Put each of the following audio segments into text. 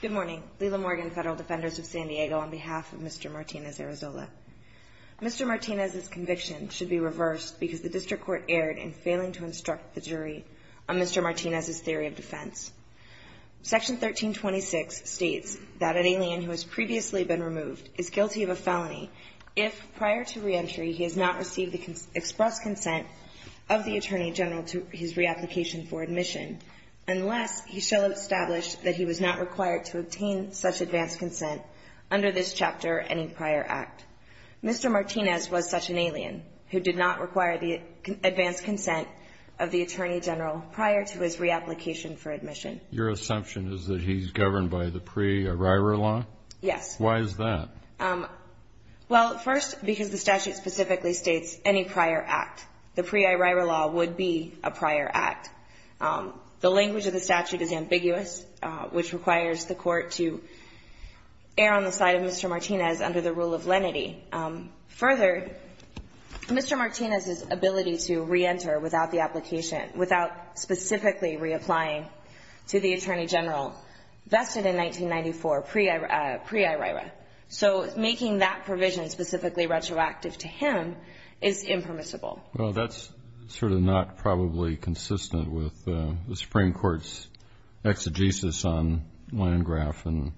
Good morning. Lila Morgan, Federal Defenders of San Diego, on behalf of Mr. Martinez-Arrasola. Mr. Martinez's conviction should be reversed because the District Court erred in failing to instruct the jury on Mr. Martinez's theory of defense. Section 1326 states that an alien who has previously been removed is guilty of a felony if, prior to reentry, he has not received the express consent of the Attorney General to his reapplication for admission, unless he shall establish that he was not required to obtain such advance consent under this chapter any prior act. Mr. Martinez was such an alien who did not require the advance consent of the Attorney General prior to his reapplication for admission. Your assumption is that he's governed by the pre-arrival law? Yes. Why is that? Well, first, because the statute specifically states any prior act. The pre-arrival law would be a prior act. The language of the statute is ambiguous, which requires the Court to err on the side of Mr. Martinez under the rule of lenity. Further, Mr. Martinez's ability to reenter without the application, without specifically reapplying to the Attorney General vested in 1994 pre-arrival. So making that provision specifically retroactive to him is impermissible. Well, that's sort of not probably consistent with the Supreme Court's exegesis on Landgraf and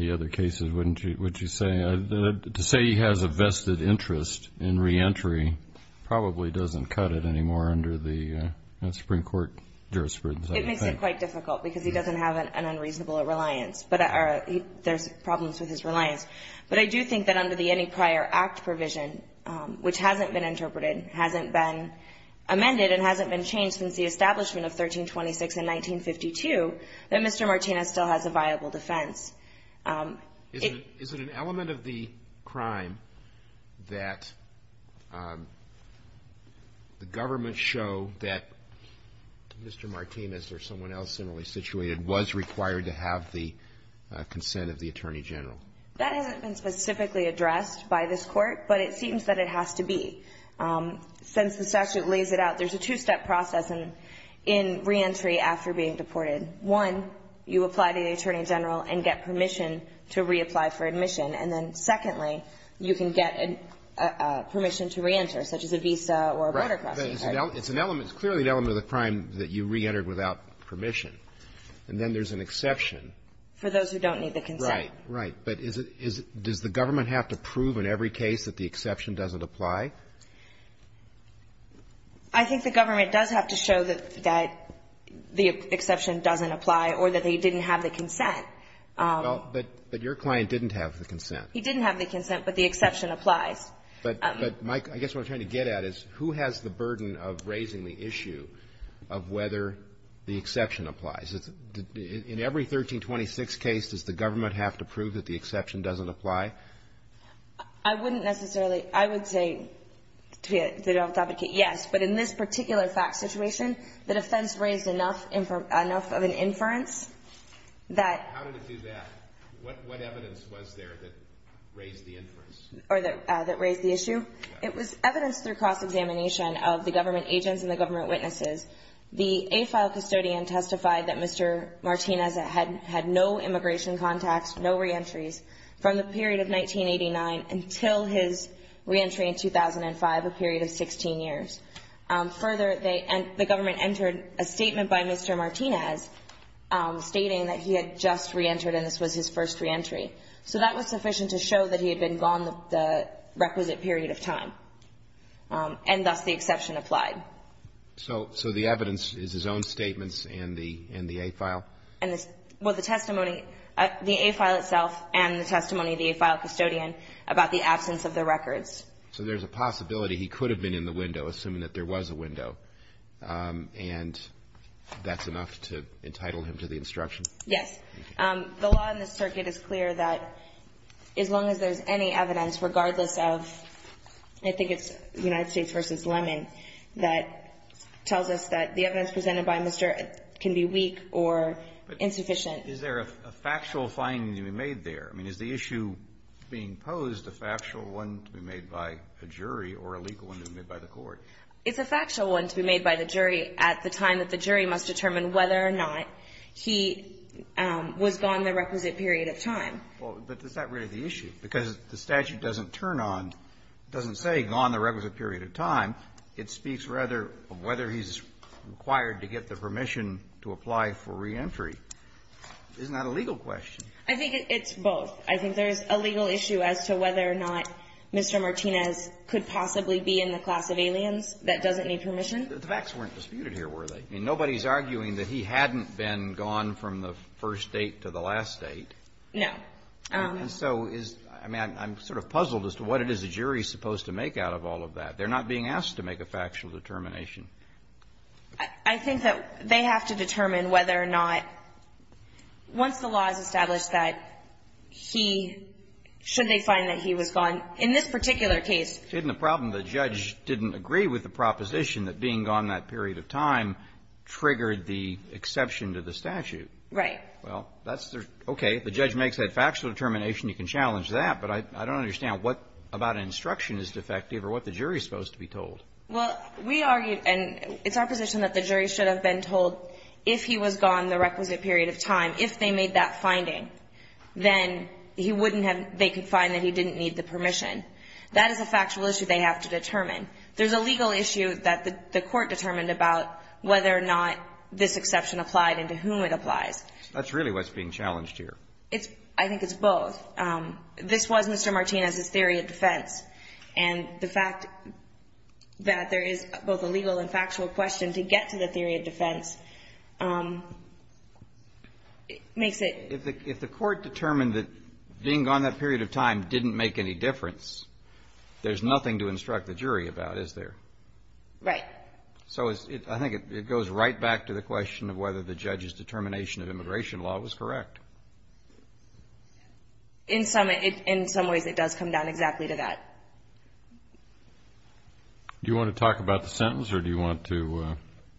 the other cases, wouldn't you say? To say he has a vested interest in reentry probably doesn't cut it anymore under the Supreme Court jurisprudence, I would think. It's quite difficult because he doesn't have an unreasonable reliance. But there's problems with his reliance. But I do think that under the any prior act provision, which hasn't been interpreted, hasn't been amended, and hasn't been changed since the establishment of 1326 and 1952, that Mr. Martinez still has a viable defense. Is it an element of the crime that the government show that Mr. Martinez or someone else similarly situated was required to have the consent of the Attorney General? That hasn't been specifically addressed by this Court, but it seems that it has to be. Since the statute lays it out, there's a two-step process in reentry after being deported. One, you apply to the Attorney General and get permission to reapply for admission. And then, secondly, you can get permission to reenter, such as a visa or a border crossing. Right. But it's an element. It's clearly an element of the crime that you reentered without permission. And then there's an exception. For those who don't need the consent. Right. Right. But is it does the government have to prove in every case that the exception doesn't apply? I think the government does have to show that the exception doesn't apply or that he didn't have the consent. Well, but your client didn't have the consent. He didn't have the consent, but the exception applies. But, Mike, I guess what I'm trying to get at is who has the burden of raising the issue of whether the exception applies? In every 1326 case, does the government have to prove that the exception doesn't apply? I wouldn't necessarily. I would say, yes, but in this particular fact situation, the defense raised enough of an inference that. How did it do that? What evidence was there that raised the inference? Or that raised the issue? It was evidence through cross-examination of the government agents and the government witnesses. The AFILE custodian testified that Mr. Martinez had no immigration contacts, no reentries, from the period of 1989 until his reentry in 2005, a period of 16 years. Further, the government entered a statement by Mr. Martinez stating that he had just reentered and this was his first reentry. So that was sufficient to show that he had been gone the requisite period of time and thus the exception applied. So the evidence is his own statements in the AFILE? Well, the testimony, the AFILE itself and the testimony of the AFILE custodian about the absence of the records. So there's a possibility he could have been in the window, assuming that there was a window, and that's enough to entitle him to the instruction? Yes. The law in this circuit is clear that as long as there's any evidence, regardless of, I think it's United States v. Lemon, that tells us that the evidence presented by Mr. can be weak or insufficient. But is there a factual finding to be made there? I mean, is the issue being posed a factual one to be made by a jury or a legal one to be made by the court? It's a factual one to be made by the jury at the time that the jury must determine whether or not he was gone the requisite period of time. Well, but is that really the issue? Because the statute doesn't turn on, doesn't say gone the requisite period of time. It speaks rather of whether he's required to get the permission to apply for reentry. Isn't that a legal question? I think it's both. I think there's a legal issue as to whether or not Mr. Martinez could possibly be in the class of aliens that doesn't need permission. But the facts weren't disputed here, were they? I mean, nobody's arguing that he hadn't been gone from the first date to the last date. No. And so is, I mean, I'm sort of puzzled as to what it is a jury is supposed to make out of all of that. They're not being asked to make a factual determination. I think that they have to determine whether or not, once the law is established that he, should they find that he was gone, in this particular case. Isn't the problem the judge didn't agree with the proposition that being gone that period of time triggered the exception to the statute? Right. Well, that's their – okay, if the judge makes that factual determination, you can challenge that. But I don't understand what about an instruction is defective or what the jury is supposed to be told. Well, we argued, and it's our position that the jury should have been told if he was gone the requisite period of time, if they made that finding, then he wouldn't have – they could find that he didn't need the permission. That is a factual issue they have to determine. There's a legal issue that the Court determined about whether or not this exception applied and to whom it applies. That's really what's being challenged here. It's – I think it's both. This was Mr. Martinez's theory of defense. And the fact that there is both a legal and factual question to get to the theory of defense makes it – If the Court determined that being gone that period of time didn't make any difference, there's nothing to instruct the jury about, is there? Right. So I think it goes right back to the question of whether the judge's determination of immigration law was correct. In some ways, it does come down exactly to that. Do you want to talk about the sentence or do you want to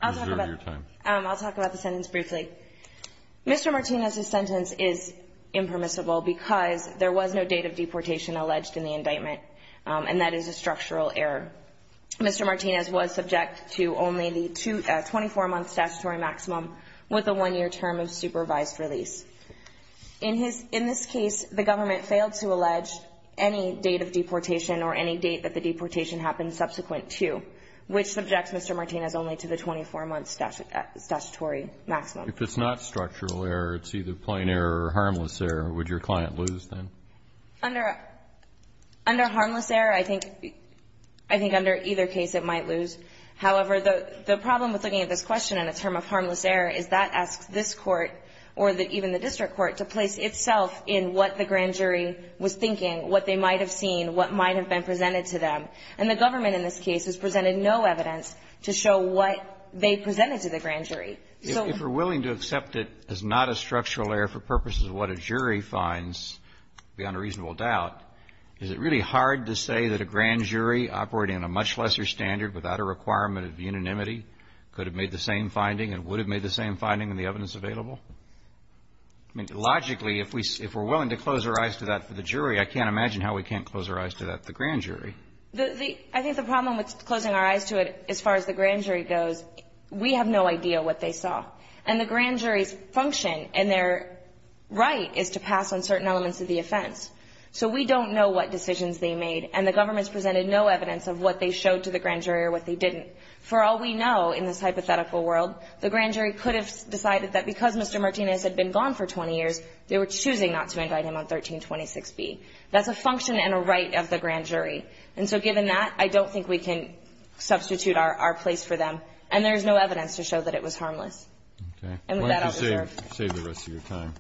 reserve your time? I'll talk about the sentence briefly. Mr. Martinez's sentence is impermissible because there was no date of deportation alleged in the indictment, and that is a structural error. Mr. Martinez was subject to only the 24-month statutory maximum with a one-year term of supervised release. In his – in this case, the government failed to allege any date of deportation or any date that the deportation happened subsequent to, which subjects Mr. Martinez only to the 24-month statutory maximum. If it's not structural error, it's either plain error or harmless error, would your client lose then? Under – under harmless error, I think – I think under either case it might lose. However, the – the problem with looking at this question in a term of harmless error is that asks this Court or the – even the district court to place itself in what the grand jury was thinking, what they might have seen, what might have been presented to them. And the government in this case has presented no evidence to show what they presented to the grand jury. So – If we're willing to accept it as not a structural error for purposes of what a jury finds beyond a reasonable doubt, is it really hard to say that a grand jury operating on a much lesser standard without a requirement of unanimity could have made the same finding and would have made the same finding in the evidence available? I mean, logically, if we – if we're willing to close our eyes to that for the jury, I can't imagine how we can't close our eyes to that for the grand jury. The – the – I think the problem with closing our eyes to it as far as the grand jury goes, we have no idea what they saw. And the grand jury's function and their right is to pass on certain elements of the offense. So we don't know what decisions they made. And the government's presented no evidence of what they showed to the grand jury or what they didn't. For all we know in this hypothetical world, the grand jury could have decided that because Mr. Martinez had been gone for 20 years, they were choosing not to invite him on 1326B. That's a function and a right of the grand jury. And so given that, I don't think we can substitute our – our place for them. And there's no evidence to show that it was harmless. And with that, I'll defer. I'll save the rest of your time.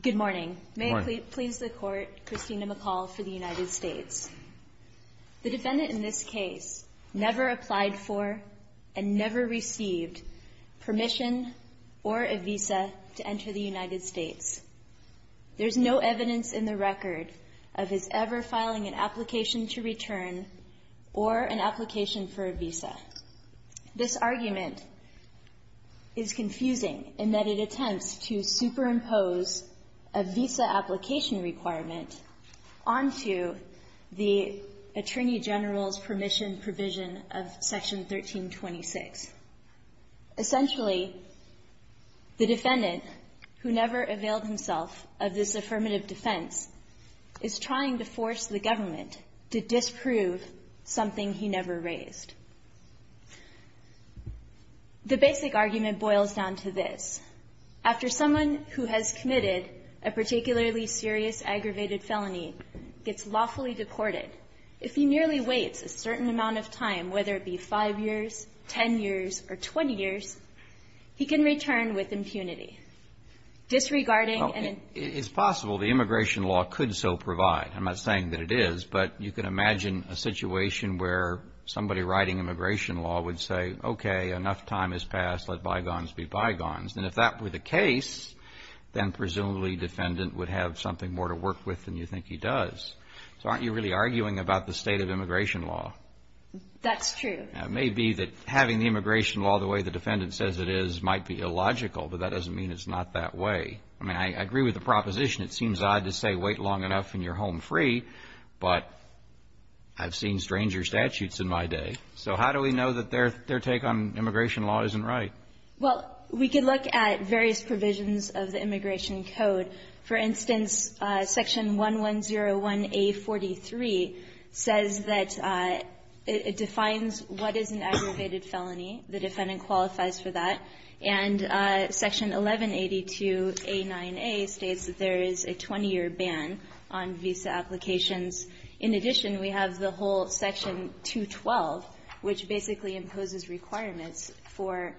Good morning. Good morning. May it please the Court, Christina McCall for the United States. The defendant in this case never applied for and never received permission or a visa to enter the United States. There's no evidence in the record of his ever filing an application to return or an application for a visa. This argument is confusing in that it attempts to superimpose a visa application requirement onto the Attorney General's permission provision of Section 1326. Essentially, the defendant, who never availed himself of this affirmative defense, is trying to force the government to disprove something he never raised. The basic argument boils down to this. After someone who has committed a particularly serious aggravated felony gets lawfully deported, if he nearly waits a certain amount of time, whether it be five years, 10 years, or 20 years, he can return with impunity. Disregarding an impunity. Well, it's possible the immigration law could so provide. I'm not saying that it is. But you can imagine a situation where somebody writing immigration law would say, okay, enough time has passed, let bygones be bygones. And if that were the case, then presumably the defendant would have something more to work with than you think he does. So aren't you really arguing about the state of immigration law? That's true. It may be that having the immigration law the way the defendant says it is might be illogical, but that doesn't mean it's not that way. I mean, I agree with the proposition. It seems odd to say wait long enough and you're home free. But I've seen stranger statutes in my day. So how do we know that their take on immigration law isn't right? Well, we could look at various provisions of the immigration code. For instance, section 1101A43 says that it defines what is an aggravated felony. The defendant qualifies for that. And section 1182A9A states that there is a 20-year ban on visa applications. In addition, we have the whole section 212, which basically imposes requirements for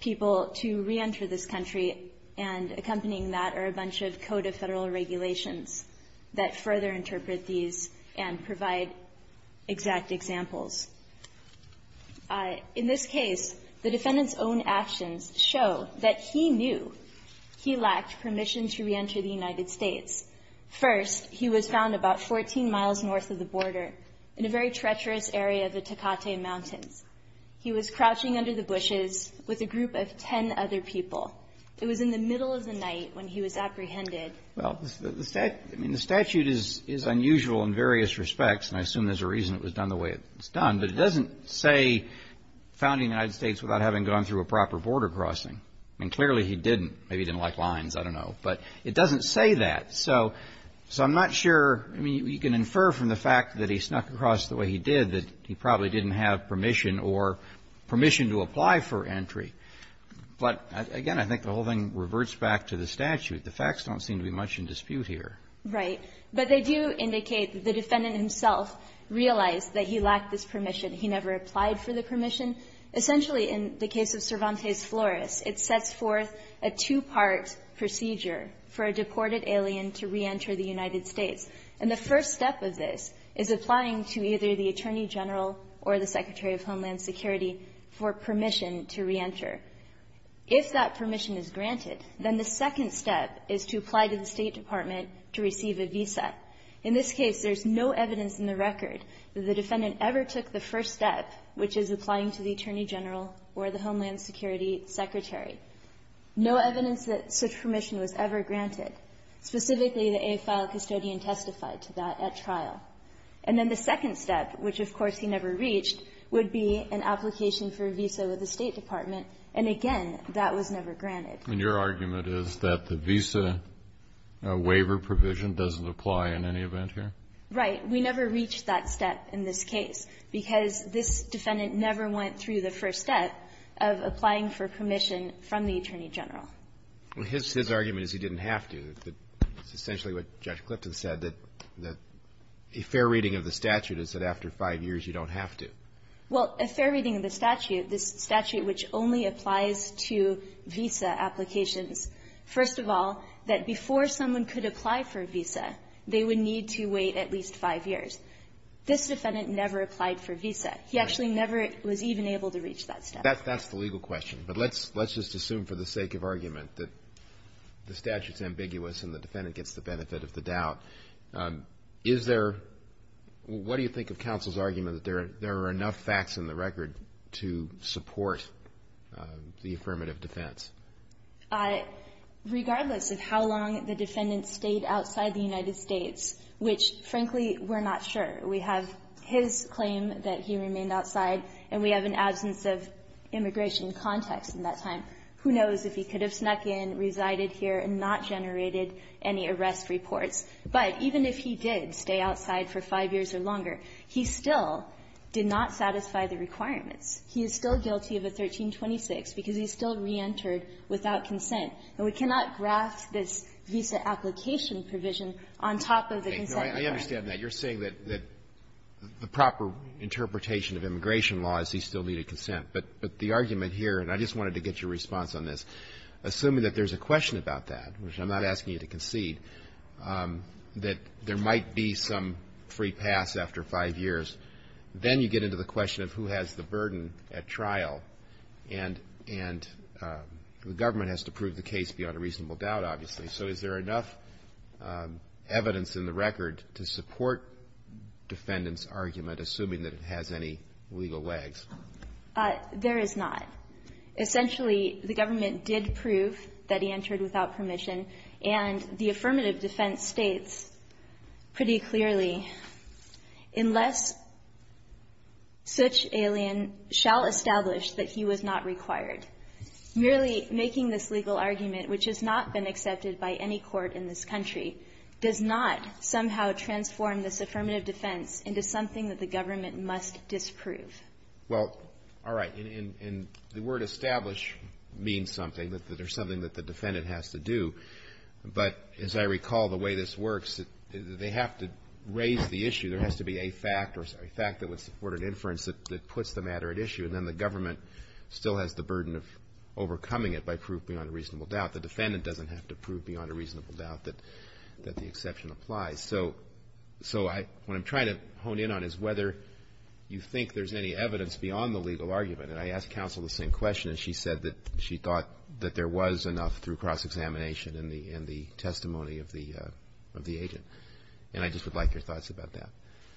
people to reenter this country, and accompanying that are a bunch of code of Federal regulations that further interpret these and provide exact examples. In this case, the defendant's own actions show that he knew he lacked permission to reenter the United States. First, he was found about 14 miles north of the border in a very treacherous area of the Tecate Mountains. He was crouching under the bushes with a group of ten other people. It was in the middle of the night when he was apprehended. Well, the statute is unusual in various respects, and I assume there's a reason it was done the way it was done. But it doesn't say found in the United States without having gone through a proper border crossing. I mean, clearly he didn't. Maybe he didn't like lines. I don't know. But it doesn't say that. So I'm not sure. I mean, you can infer from the fact that he snuck across the way he did that he probably didn't have permission or permission to apply for entry. But, again, I think the whole thing reverts back to the statute. The facts don't seem to be much in dispute here. Right. But they do indicate that the defendant himself realized that he lacked this permission. He never applied for the permission. Essentially, in the case of Cervantes Flores, it sets forth a two-part procedure for a deported alien to reenter the United States. And the first step of this is applying to either the Attorney General or the Secretary of Homeland Security for permission to reenter. If that permission is granted, then the second step is to apply to the State Department to receive a visa. In this case, there's no evidence in the record that the defendant ever took the first step, which is applying to the Attorney General or the Homeland Security Secretary. No evidence that such permission was ever granted. Specifically, the AFILE custodian testified to that at trial. And then the second step, which, of course, he never reached, would be an application for a visa with the State Department, and, again, that was never granted. And your argument is that the visa waiver provision doesn't apply in any event here? Right. We never reached that step in this case, because this defendant never went through the first step of applying for permission from the Attorney General. Well, his argument is he didn't have to. That's essentially what Judge Clifton said, that a fair reading of the statute is that after five years, you don't have to. Well, a fair reading of the statute, this statute which only applies to visa applications, first of all, that before someone could apply for a visa, they would need to wait at least five years. This defendant never applied for a visa. He actually never was even able to reach that step. That's the legal question. But let's just assume for the sake of argument that the statute's ambiguous and the defendant gets the benefit of the doubt. Is there, what do you think of counsel's argument that there are enough facts in the record to support the affirmative defense? Regardless of how long the defendant stayed outside the United States, which, frankly, we're not sure. We have his claim that he remained outside, and we have an absence of immigration context in that time. Who knows if he could have snuck in, resided here, and not generated any arrest reports. But even if he did stay outside for five years or longer, he still did not satisfy the requirements. He is still guilty of a 1326 because he still reentered without consent. And we cannot graft this visa application provision on top of the consent requirement. I understand that. You're saying that the proper interpretation of immigration law is he still needed consent. But the argument here, and I just wanted to get your response on this, assuming that there's a question about that, which I'm not asking you to concede, that there might be some free pass after five years, then you get into the question of who has the burden at trial. And the government has to prove the case beyond a reasonable doubt, obviously. So is there enough evidence in the record to support defendant's argument, assuming that it has any legal lags? There is not. Essentially, the government did prove that he entered without permission. And the affirmative defense states pretty clearly, unless such alien shall establish that he was not required, merely making this legal argument, which has not been accepted by any court in this country, does not somehow transform this affirmative defense into something that the government must disprove. Well, all right. And the word establish means something, that there's something that the defendant has to do. But as I recall the way this works, they have to raise the issue. There has to be a fact or a fact that would support an inference that puts the matter at issue. And then the government still has the burden of overcoming it by proving on a reasonable doubt. The defendant doesn't have to prove beyond a reasonable doubt that the exception applies. So what I'm trying to hone in on is whether you think there's any evidence beyond the legal argument. And I asked counsel the same question, and she said that she thought that there was enough through cross-examination in the testimony of the agent. And I just would like your thoughts about that.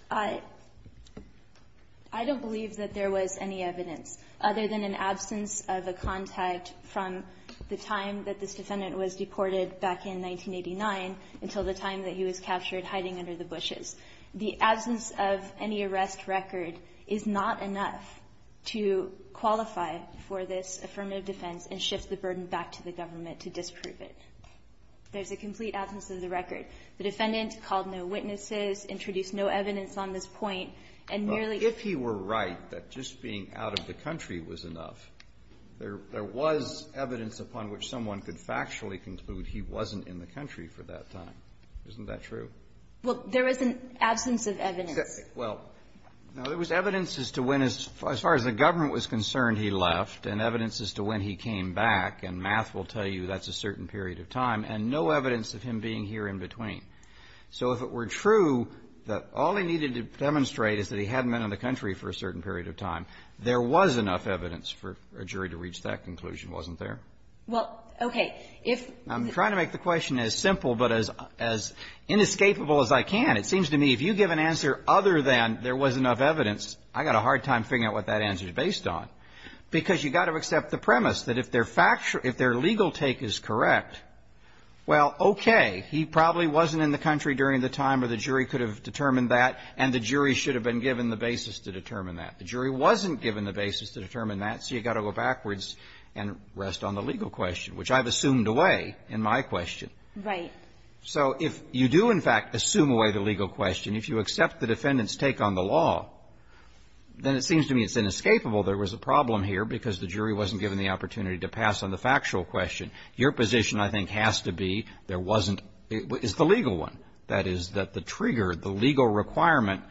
I don't believe that there was any evidence, other than an absence of a contact from the time that this defendant was deported back in 1989 until the time that he was captured hiding under the bushes. The absence of any arrest record is not enough to qualify for this affirmative defense and shift the burden back to the government to disprove it. There's a complete absence of the record. The defendant called no witnesses, introduced no evidence on this point, and merely ---- There was evidence upon which someone could factually conclude he wasn't in the country for that time. Isn't that true? Well, there is an absence of evidence. Well, there was evidence as to when, as far as the government was concerned, he left, and evidence as to when he came back. And math will tell you that's a certain period of time. And no evidence of him being here in between. So if it were true that all he needed to demonstrate is that he hadn't been in the country for a certain period of time, there was enough evidence for a jury to reach that conclusion, wasn't there? Well, okay. If the ---- I'm trying to make the question as simple but as inescapable as I can. It seems to me if you give an answer other than there was enough evidence, I got a hard time figuring out what that answer is based on. Because you've got to accept the premise that if their legal take is correct, well, okay, he probably wasn't in the country during the time or the jury could have determined that, and the jury should have been given the basis to determine that. The jury wasn't given the basis to determine that, so you've got to go backwards and rest on the legal question, which I've assumed away in my question. Right. So if you do, in fact, assume away the legal question, if you accept the defendant's take on the law, then it seems to me it's inescapable there was a problem here because the jury wasn't given the opportunity to pass on the factual question. Your position, I think, has to be there wasn't ---- is the legal one. That is, that the trigger, the legal requirement,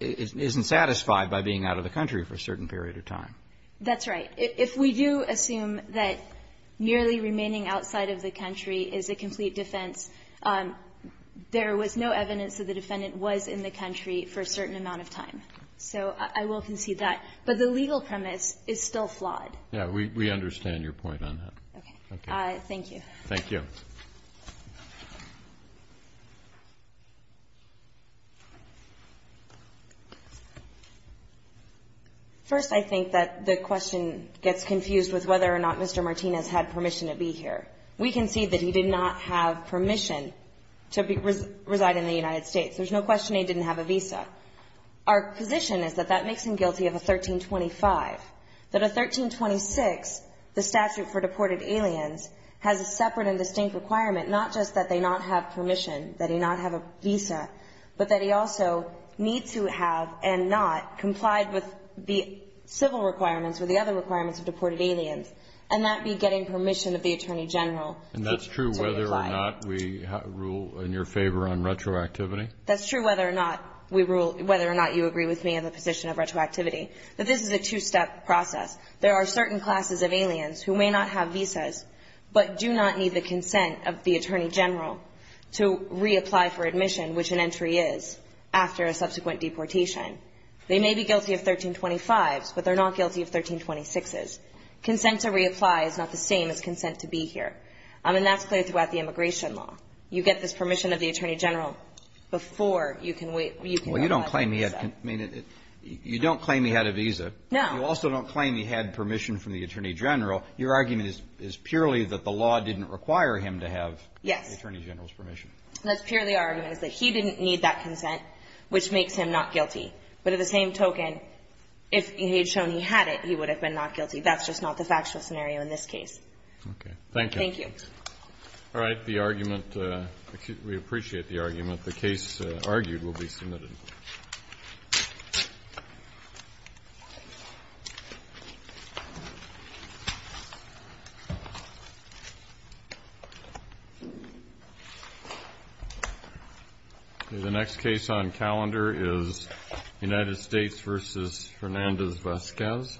isn't satisfied by being out of the country for a certain period of time. That's right. If we do assume that merely remaining outside of the country is a complete defense, there was no evidence that the defendant was in the country for a certain amount of time. So I will concede that. But the legal premise is still flawed. Yeah. We understand your point on that. Okay. Thank you. Thank you. First, I think that the question gets confused with whether or not Mr. Martinez had permission to be here. We concede that he did not have permission to reside in the United States. There's no question he didn't have a visa. Our position is that that makes him guilty of a 1325, that a 1326, the statute for deported aliens has a separate and distinct requirement, not just that they not have permission, that he not have a visa, but that he also need to have and not complied with the civil requirements or the other requirements of deported aliens and not be getting permission of the Attorney General to comply. And that's true whether or not we rule in your favor on retroactivity? That's true whether or not we rule, whether or not you agree with me on the position of retroactivity. But this is a two-step process. There are certain classes of aliens who may not have visas, but do not need the consent of the Attorney General to reapply for admission, which an entry is, after a subsequent deportation. They may be guilty of 1325s, but they're not guilty of 1326s. Consent to reapply is not the same as consent to be here. And that's clear throughout the immigration law. You get this permission of the Attorney General before you can get a visa. Well, you don't claim he had, I mean, you don't claim he had a visa. No. You also don't claim he had permission from the Attorney General. Your argument is purely that the law didn't require him to have the Attorney General's permission. Yes. That's purely our argument, is that he didn't need that consent, which makes him not guilty. But at the same token, if he had shown he had it, he would have been not guilty. That's just not the factual scenario in this case. Okay. Thank you. Thank you. All right. The argument, we appreciate the argument. The case argued will be submitted. The next case on calendar is United States v. Fernandez-Vazquez. Thank you.